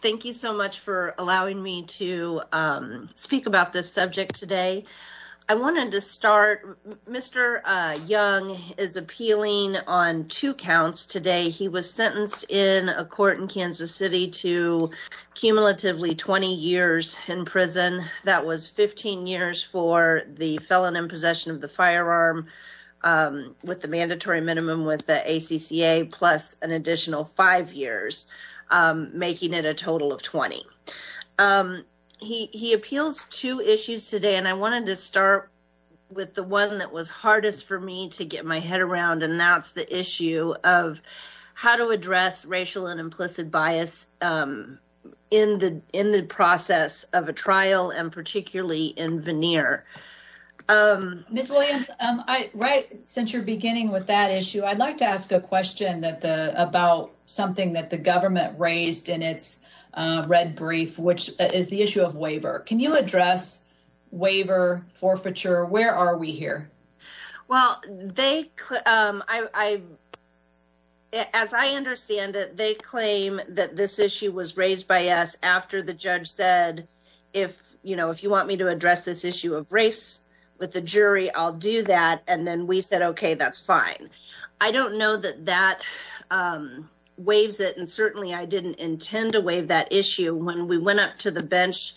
Thank you so much for allowing me to speak about this subject today. I wanted to start Mr. Young is appealing on 2 counts today. He was sentenced in a court in Kansas City to cumulative misdemeanor assault, and he was sentenced to 2 years in prison, and he was sentenced to 3 years in prison. Relatively 20 years in prison. That was 15 years for the felon in possession of the firearm with the mandatory minimum with the ACCA, plus an additional 5 years, making it a total of 20. He appeals 2 issues today, and I wanted to start with the one that was hardest for me to get my head around, and that's the issue of how to address racial and implicit bias in the process of a trial, and particularly in veneer. Miss Williams, I right since you're beginning with that issue, I'd like to ask a question that the about something that the government raised in its red brief, which is the issue of waiver. Can you address waiver forfeiture? Where are we here? Well, they, as I understand it, they claim that this issue was raised by us after the judge said, if you want me to address this issue of race with the jury, I'll do that. And then we said, okay, that's fine. I don't know that that. Waves it and certainly I didn't intend to wave that issue when we went up to the bench.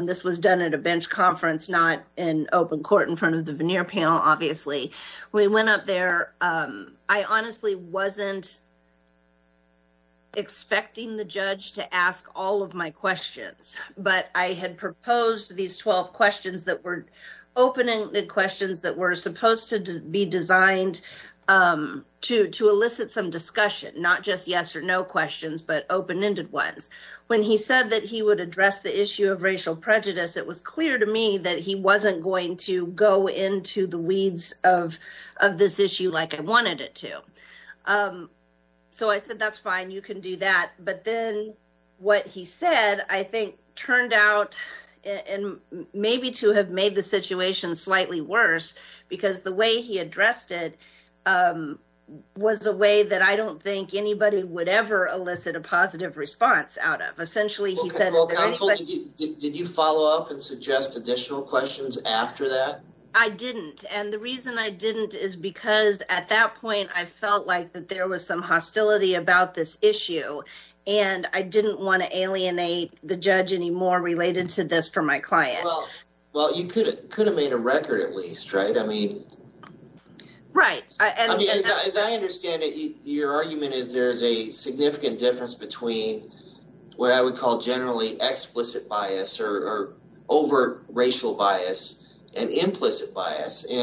This was done at a bench conference, not in open court in front of the veneer panel. Obviously, we went up there. I honestly wasn't. Expecting the judge to ask all of my questions, but I had proposed these 12 questions that were opening the questions that were supposed to be designed to, to elicit some discussion, not just yes or no questions, but open ended ones when he said that he would address the issue of racial prejudice. It was clear to me that he wasn't going to go into the weeds of of this issue. Like, I wanted it to so I said, that's fine. You can do that. But then what he said, I think turned out and maybe to have made the situation slightly worse because the way he addressed it was a way that I don't think anybody would ever elicit a positive response out of essentially. Did you follow up and suggest additional questions after that? I didn't and the reason I didn't is because at that point, I felt like that there was some hostility about this issue and I didn't want to alienate the judge anymore related to this for my client. Well, you could could have made a record at least. Right? I mean, right. I mean, as I understand it, your argument is there's a significant difference between what I would call generally explicit bias or over racial bias and implicit bias. I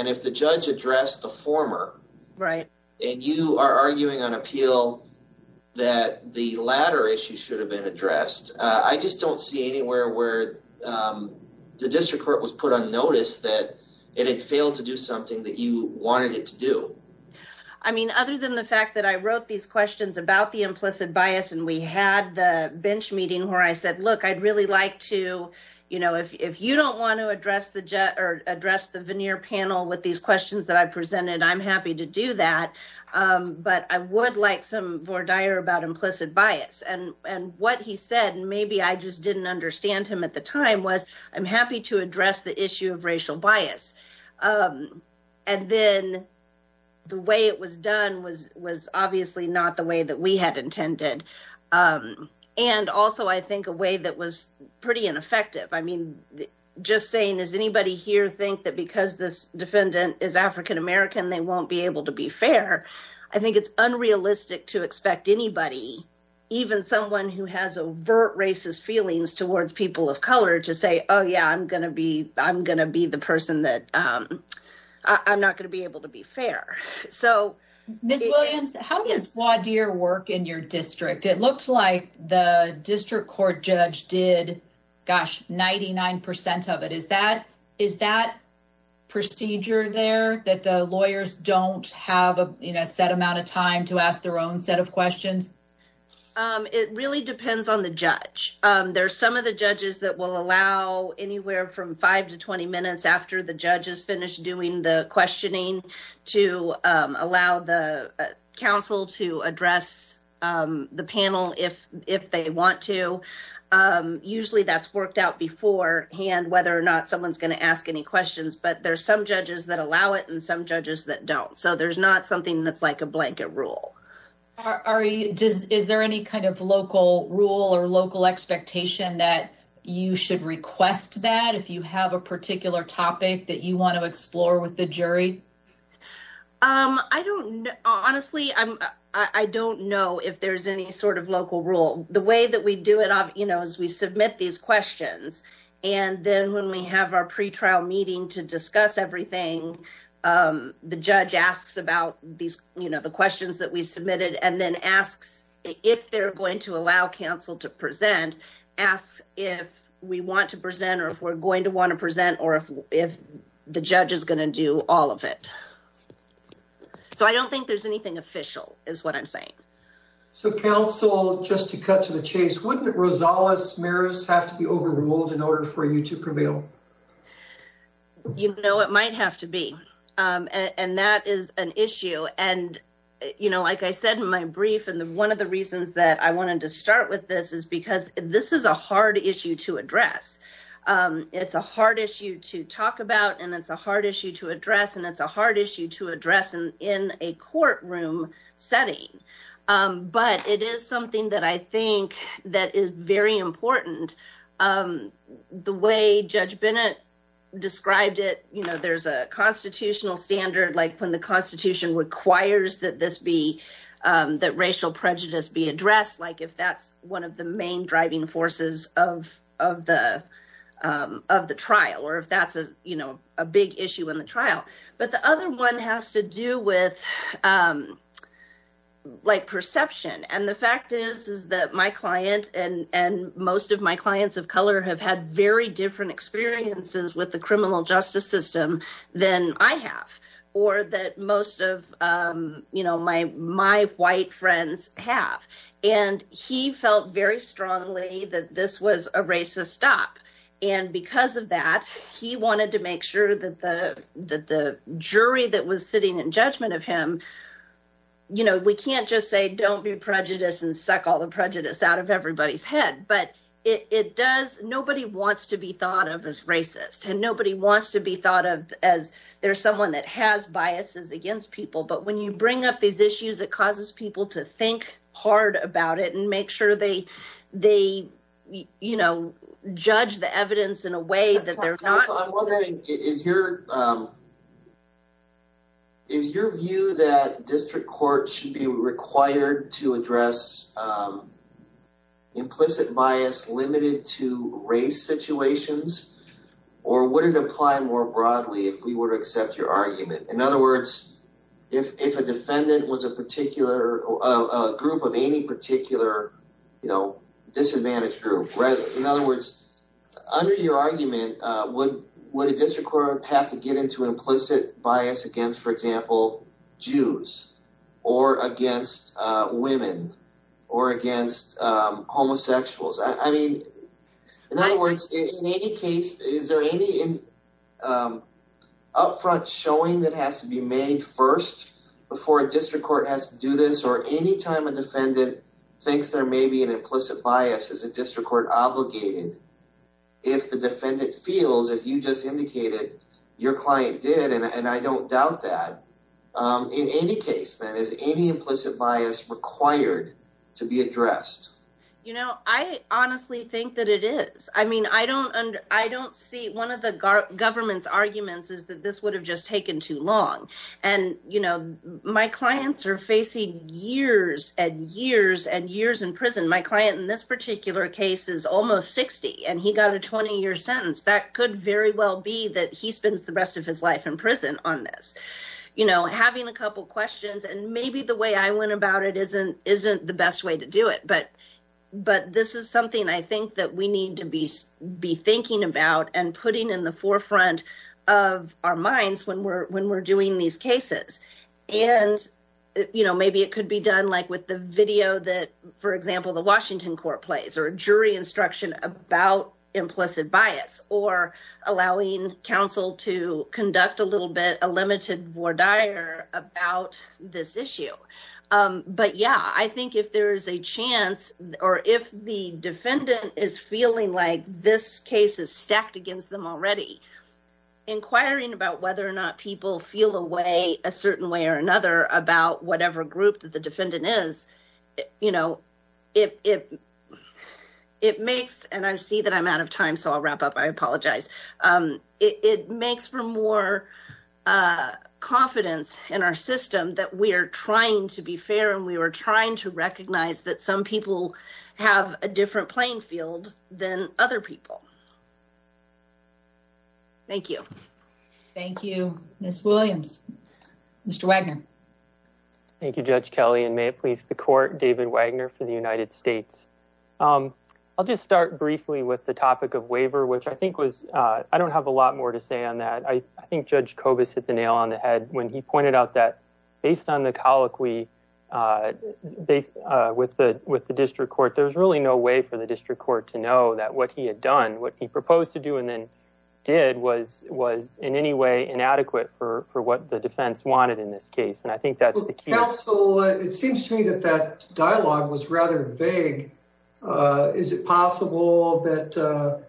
mean, other than the fact that I wrote these questions about the implicit bias, and we had the bench meeting where I said, look, I'd really like to, you know, if you don't want to address the jet or address the veneer panel, I don't want to address the issue of racial bias. And then the way it was done was, was obviously not the way that we had intended. And also, I think a way that was pretty ineffective. I mean, just saying, is anybody here think that because this defendant is a victim of racial bias, that they should be held accountable? And if this defendant is African American, they won't be able to be fair. I think it's unrealistic to expect anybody, even someone who has overt racist feelings towards people of color to say, oh, yeah, I'm going to be I'm going to be the person that I'm not going to be able to be fair. Ms. Williams, how does WADIR work in your district? It looks like the district court judge did, gosh, 99% of it. Is that is that procedure there that the lawyers don't have a set amount of time to ask their own set of questions? It really depends on the judge. There's some of the judges that will allow anywhere from five to 20 minutes after the judge has finished doing the questioning to allow the council to address the panel if if they want to. Usually that's worked out beforehand, whether or not someone's going to ask any questions, but there's some judges that allow it and some judges that don't. So there's not something that's like a blanket rule. Are you just is there any kind of local rule or local expectation that you should request that if you have a particular topic that you want to explore with the jury? I don't honestly, I'm I don't know if there's any sort of local rule the way that we do it as we submit these questions. And then when we have our pre trial meeting to discuss everything, the judge asks about these, you know, the questions that we submitted and then asks if they're going to allow council to present asks if we want to present or if we're going to want to present or if the judge is going to do all of it. So I don't think there's anything official is what I'm saying. So, council, just to cut to the chase, wouldn't it Rosales Maris have to be overruled in order for you to prevail? You know, it might have to be, and that is an issue. And, you know, like I said, my brief and one of the reasons that I wanted to start with this is because this is a hard issue to address. It's a hard issue to talk about, and it's a hard issue to address, and it's a hard issue to address in a courtroom setting. But it is something that I think that is very important. The way Judge Bennett described it, you know, there's a constitutional standard, like, when the Constitution requires that this be that racial prejudice be addressed, like, if that's one of the main driving forces of of the of the trial, or if that's a big issue in the trial. But the other one has to do with, like, perception. And the fact is, is that my client and most of my clients of color have had very different experiences with the criminal justice system than I have, or that most of my white friends have. And he felt very strongly that this was a racist stop. And because of that, he wanted to make sure that the jury that was sitting in judgment of him, you know, we can't just say, don't be prejudiced and suck all the prejudice out of everybody's head. But it does. Nobody wants to be thought of as racist and nobody wants to be thought of as there's someone that has biases against people. But when you bring up these issues, it causes people to think hard about it and make sure they they, you know, judge the evidence in a way that they're not. I'm wondering, is your is your view that district court should be required to address implicit bias limited to race situations or would it apply more broadly if we were to accept your argument? In other words, if if a defendant was a particular group of any particular, you know, disadvantaged group, in other words, under your argument, would would a district court have to get into implicit bias against, for example, Jews or against women or against homosexuals? I mean, in other words, in any case, is there any upfront showing that has to be made first before a district court has to do this or any time a defendant thinks there may be an implicit bias as a district court obligated? If the defendant feels, as you just indicated, your client did, and I don't doubt that in any case, that is any implicit bias required to be addressed. You know, I honestly think that it is. I mean, I don't I don't see one of the government's arguments is that this would have just taken too long. And, you know, my clients are facing years and years and years in prison. My client in this particular case is almost 60 and he got a 20 year sentence. That could very well be that he spends the rest of his life in prison on this, you know, having a couple of questions. And maybe the way I went about it isn't isn't the best way to do it. But but this is something I think that we need to be be thinking about and putting in the forefront of our minds when we're when we're doing these cases. And, you know, maybe it could be done, like, with the video that, for example, the Washington court plays or jury instruction about implicit bias or allowing counsel to conduct a little bit a limited voir dire about this issue. But, yeah, I think if there is a chance or if the defendant is feeling like this case is stacked against them already inquiring about whether or not people feel a way a certain way or another about whatever group that the defendant is. You know, if it makes and I see that I'm out of time, so I'll wrap up. I apologize. It makes for more confidence in our system that we are trying to be fair and we were trying to recognize that some people have a different playing field than other people. Thank you. Thank you. Miss Williams, Mr. Wagner. Thank you, Judge Kelly. And may it please the court. David Wagner for the United States. I'll just start briefly with the topic of waiver, which I think was I don't have a lot more to say on that. I think Judge Cobus hit the nail on the head when he pointed out that based on the colloquy. Based with the with the district court, there's really no way for the district court to know that what he had done, what he proposed to do and then did was was in any way inadequate for for what the defense wanted in this case. And I think that's the council. It seems to me that that dialogue was rather vague. Is it possible that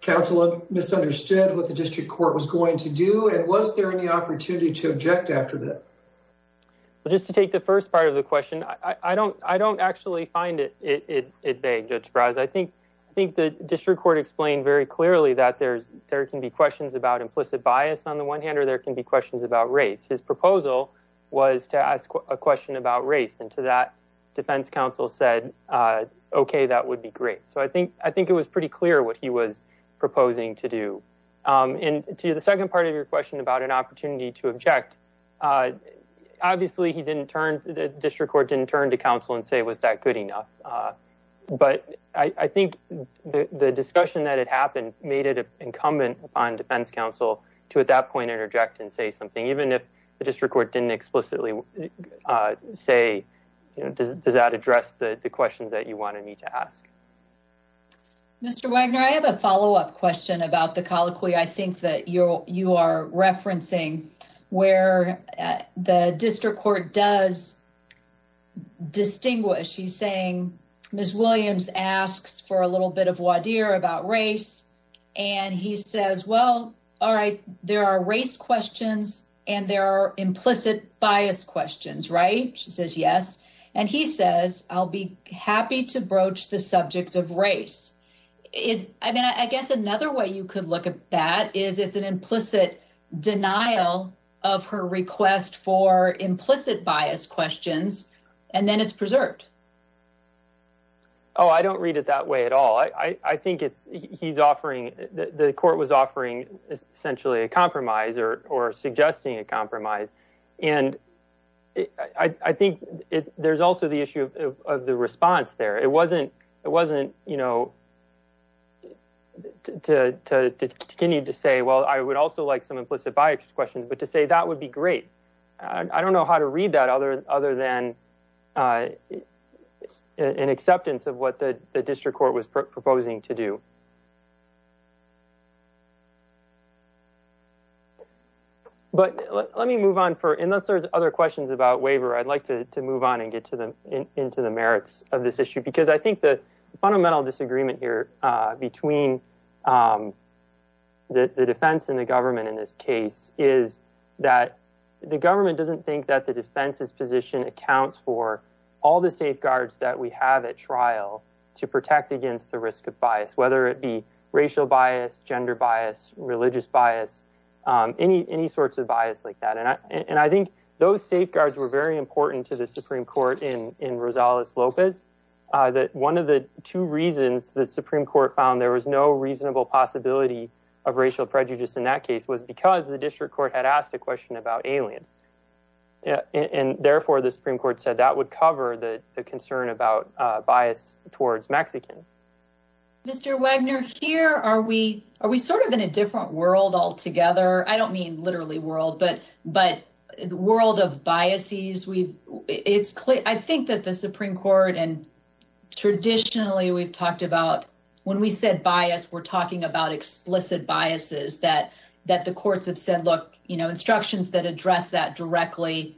council misunderstood what the district court was going to do? And was there any opportunity to object after that? Well, just to take the first part of the question, I don't I don't actually find it vague. I think I think the district court explained very clearly that there's there can be questions about implicit bias on the one hand or there can be questions about race. His proposal was to ask a question about race and to that defense counsel said, OK, that would be great. So I think I think it was pretty clear what he was proposing to do. And to the second part of your question about an opportunity to object, obviously, he didn't turn the district court, didn't turn to counsel and say, was that good enough? But I think the discussion that had happened made it incumbent upon defense counsel to at that point interject and say something, even if the district court didn't explicitly say, does that address the questions that you wanted me to ask? Mr. Wagner, I have a follow up question about the colloquy. I think that you're you are referencing where the district court does distinguish. She's saying Ms. Williams asks for a little bit of wadir about race and he says, well, all right, there are race questions and there are implicit bias questions, right? She says, yes. And he says, I'll be happy to broach the subject of race is I mean, I guess another way you could look at that is it's an implicit denial of her request for implicit bias questions and then it's preserved. Oh, I don't read it that way at all. I think it's he's offering the court was offering essentially a compromise or or suggesting a compromise. And I think there's also the issue of the response there. It wasn't it wasn't, you know, to continue to say, well, I would also like some implicit bias questions, but to say that would be great. I don't know how to read that other other than an acceptance of what the district court was proposing to do. But let me move on for in those other questions about waiver, I'd like to move on and get to them into the merits of this issue, because I think the fundamental disagreement here between the defense and the government in this case is that the government doesn't think that the defense's position accounts for all the safeguards that we have at trial to protect against the risk of bias, whether it be. Racial bias, gender bias, religious bias, any any sorts of bias like that. And I think those safeguards were very important to the Supreme Court in in Rosales Lopez that one of the two reasons the Supreme Court found there was no reasonable possibility of racial prejudice in that case was because the district court had asked a question about aliens. And therefore, the Supreme Court said that would cover the concern about bias towards Mexicans. Mr Wagner here, are we are we sort of in a different world altogether? I don't mean literally world, but but the world of biases. We it's clear. I think that the Supreme Court and. Traditionally, we've talked about when we said bias, we're talking about explicit biases that that the courts have said, look, instructions that address that directly.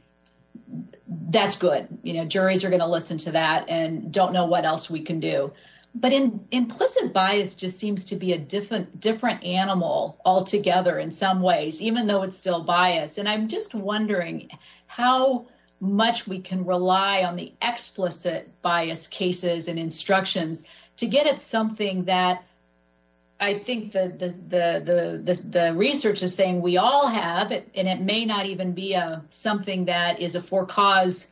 That's good. You know, juries are going to listen to that and don't know what else we can do. But in implicit bias just seems to be a different, different animal altogether in some ways, even though it's still bias. And I'm just wondering how much we can rely on the explicit bias cases and instructions to get at something that. I think that the research is saying we all have it, and it may not even be something that is a for cause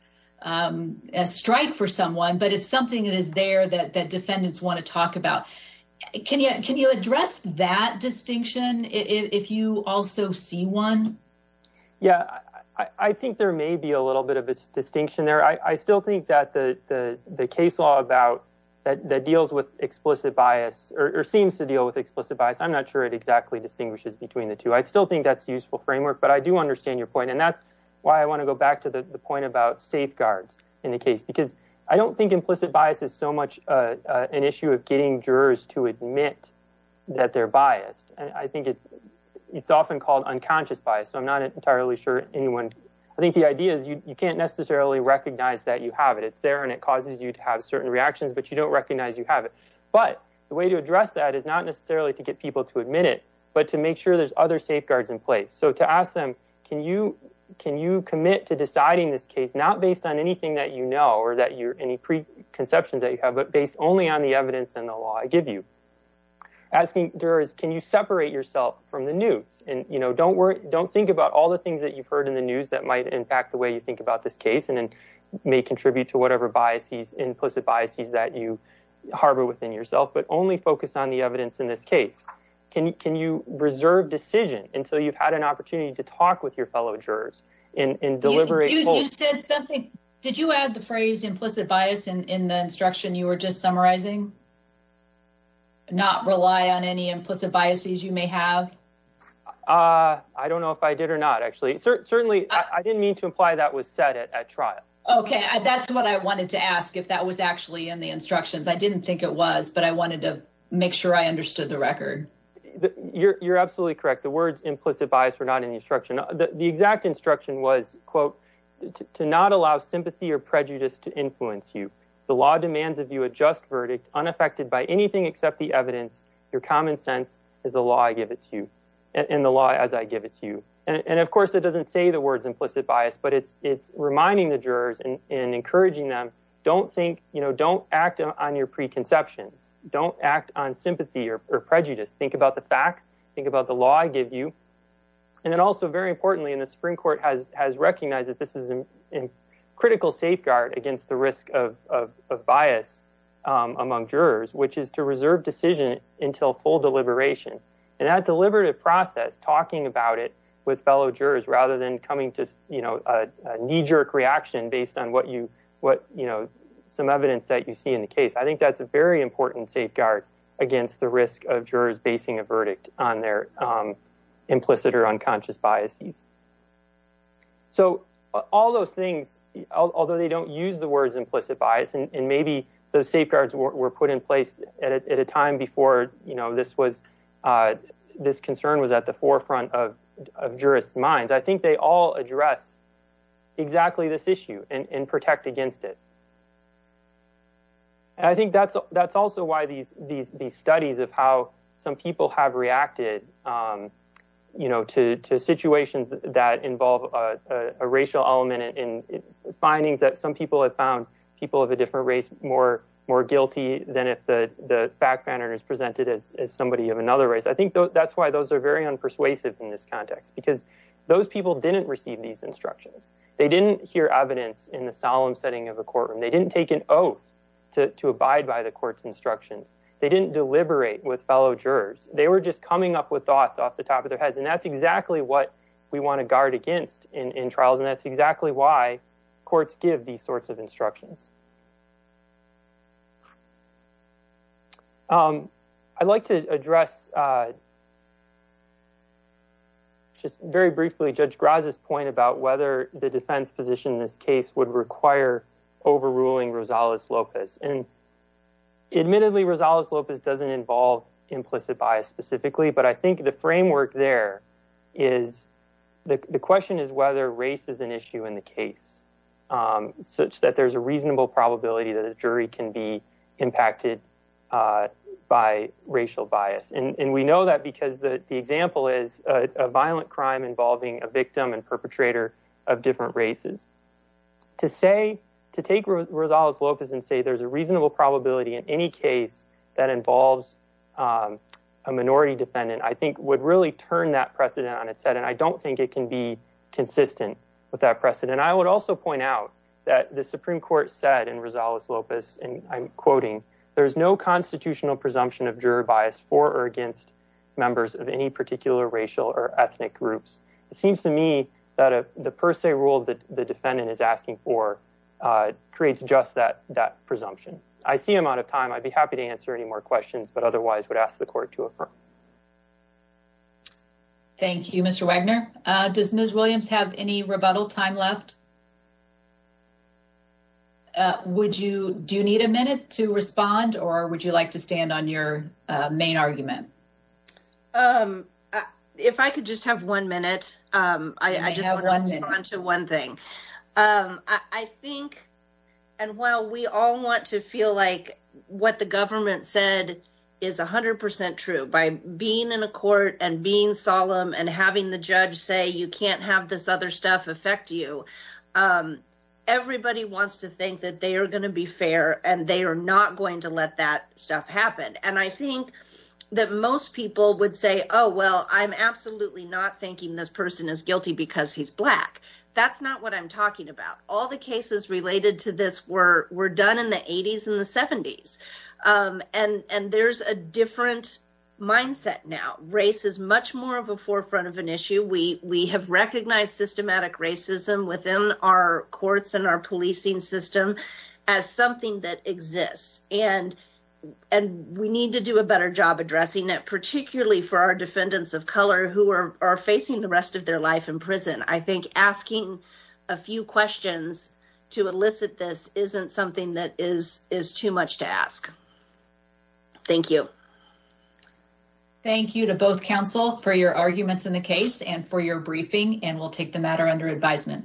strike for someone, but it's something that is there that the defendants want to talk about. Can you can you address that distinction if you also see one? Yeah, I think there may be a little bit of a distinction there. I still think that the case law about that deals with explicit bias or seems to deal with explicit bias. I'm not sure it exactly distinguishes between the two. I still think that's useful framework, but I do understand your point. And that's why I want to go back to the point about safeguards in the case, because I don't think implicit bias is so much an issue of getting jurors to admit that they're biased. And I think it's often called unconscious bias. So I'm not entirely sure anyone. I think the idea is you can't necessarily recognize that you have it. It's there and it causes you to have certain reactions, but you don't recognize you have it. But the way to address that is not necessarily to get people to admit it, but to make sure there's other safeguards in place. So to ask them, can you can you commit to deciding this case, not based on anything that you know or that you're any preconceptions that you have, but based only on the evidence and the law I give you. Asking jurors, can you separate yourself from the news? And, you know, don't worry. Don't think about all the things that you've heard in the news that might impact the way you think about this case and may contribute to whatever biases, implicit biases that you harbor within yourself, but only focus on the evidence in this case. Can you can you reserve decision until you've had an opportunity to talk with your fellow jurors and deliberate? You said something. Did you add the phrase implicit bias in the instruction you were just summarizing? Not rely on any implicit biases you may have. I don't know if I did or not, actually. Certainly, I didn't mean to imply that was said at trial. OK, that's what I wanted to ask if that was actually in the instructions. I didn't think it was, but I wanted to make sure I understood the record. You're absolutely correct. The words implicit bias were not in the instruction. The exact instruction was, quote, to not allow sympathy or prejudice to influence you. The law demands of you a just verdict unaffected by anything except the evidence. Your common sense is a law. I give it to you in the law as I give it to you. And of course, it doesn't say the words implicit bias, but it's it's reminding the jurors and encouraging them. Don't think you know, don't act on your preconceptions. Don't act on sympathy or prejudice. Think about the facts. Think about the law I give you. And then also, very importantly, in the Supreme Court has has recognized that this is a critical safeguard against the risk of bias among jurors, which is to reserve decision until full deliberation. And that deliberative process, talking about it with fellow jurors rather than coming to, you know, a knee jerk reaction based on what you what you know, some evidence that you see in the case. I think that's a very important safeguard against the risk of jurors basing a verdict on their implicit or unconscious biases. So all those things, although they don't use the words implicit bias and maybe those safeguards were put in place at a time before, you know, this was this concern was at the forefront of jurists minds. I think they all address exactly this issue and protect against it. And I think that's that's also why these these these studies of how some people have reacted, you know, to to situations that involve a racial element in findings that some people have found people of a different race more more guilty than if the fact pattern is presented as somebody of another race. I think that's why those are very unpersuasive in this context, because those people didn't receive these instructions. They didn't hear evidence in the solemn setting of a courtroom. They didn't take an oath to abide by the court's instructions. They didn't deliberate with fellow jurors. They were just coming up with thoughts off the top of their heads. And that's exactly what we want to guard against in trials. And that's exactly why courts give these sorts of instructions. I'd like to address. Just very briefly, Judge Graza's point about whether the defense position in this case would require overruling Rosales Lopez and admittedly, Rosales Lopez doesn't involve implicit bias specifically. But I think the framework there is the question is whether race is an issue in the case such that there's a reasonable probability that a jury can be impacted by racial bias. And we know that because the example is a violent crime involving a victim and perpetrator of different races. To say, to take Rosales Lopez and say there's a reasonable probability in any case that involves a minority defendant, I think would really turn that precedent on its head. And I don't think it can be consistent with that precedent. I would also point out that the Supreme Court said in Rosales Lopez, and I'm quoting, there's no constitutional presumption of juror bias for or against members of any particular racial or ethnic groups. It seems to me that the per se rule that the defendant is asking for creates just that presumption. I see I'm out of time. I'd be happy to answer any more questions, but otherwise would ask the court to affirm. Thank you, Mr. Wagner. Does Ms. Williams have any rebuttal time left? Would you, do you need a minute to respond or would you like to stand on your main argument? If I could just have one minute, I just want to respond to one thing. I think, and while we all want to feel like what the government said is 100% true, by being in a court and being solemn and having the judge say you can't have this other stuff affect you, everybody wants to think that they are going to be fair and they are not going to let that stuff happen. And I think that most people would say, oh, well, I'm absolutely not thinking this person is guilty because he's black. That's not what I'm talking about. All the cases related to this were done in the 80s and the 70s. And there's a different mindset now. Race is much more of a forefront of an issue. We have recognized systematic racism within our courts and our policing system as something that exists. And we need to do a better job addressing it, particularly for our defendants of color who are facing the rest of their life in prison. I think asking a few questions to elicit this isn't something that is too much to ask. Thank you. Thank you to both counsel for your arguments in the case and for your briefing and we'll take the matter under advisement.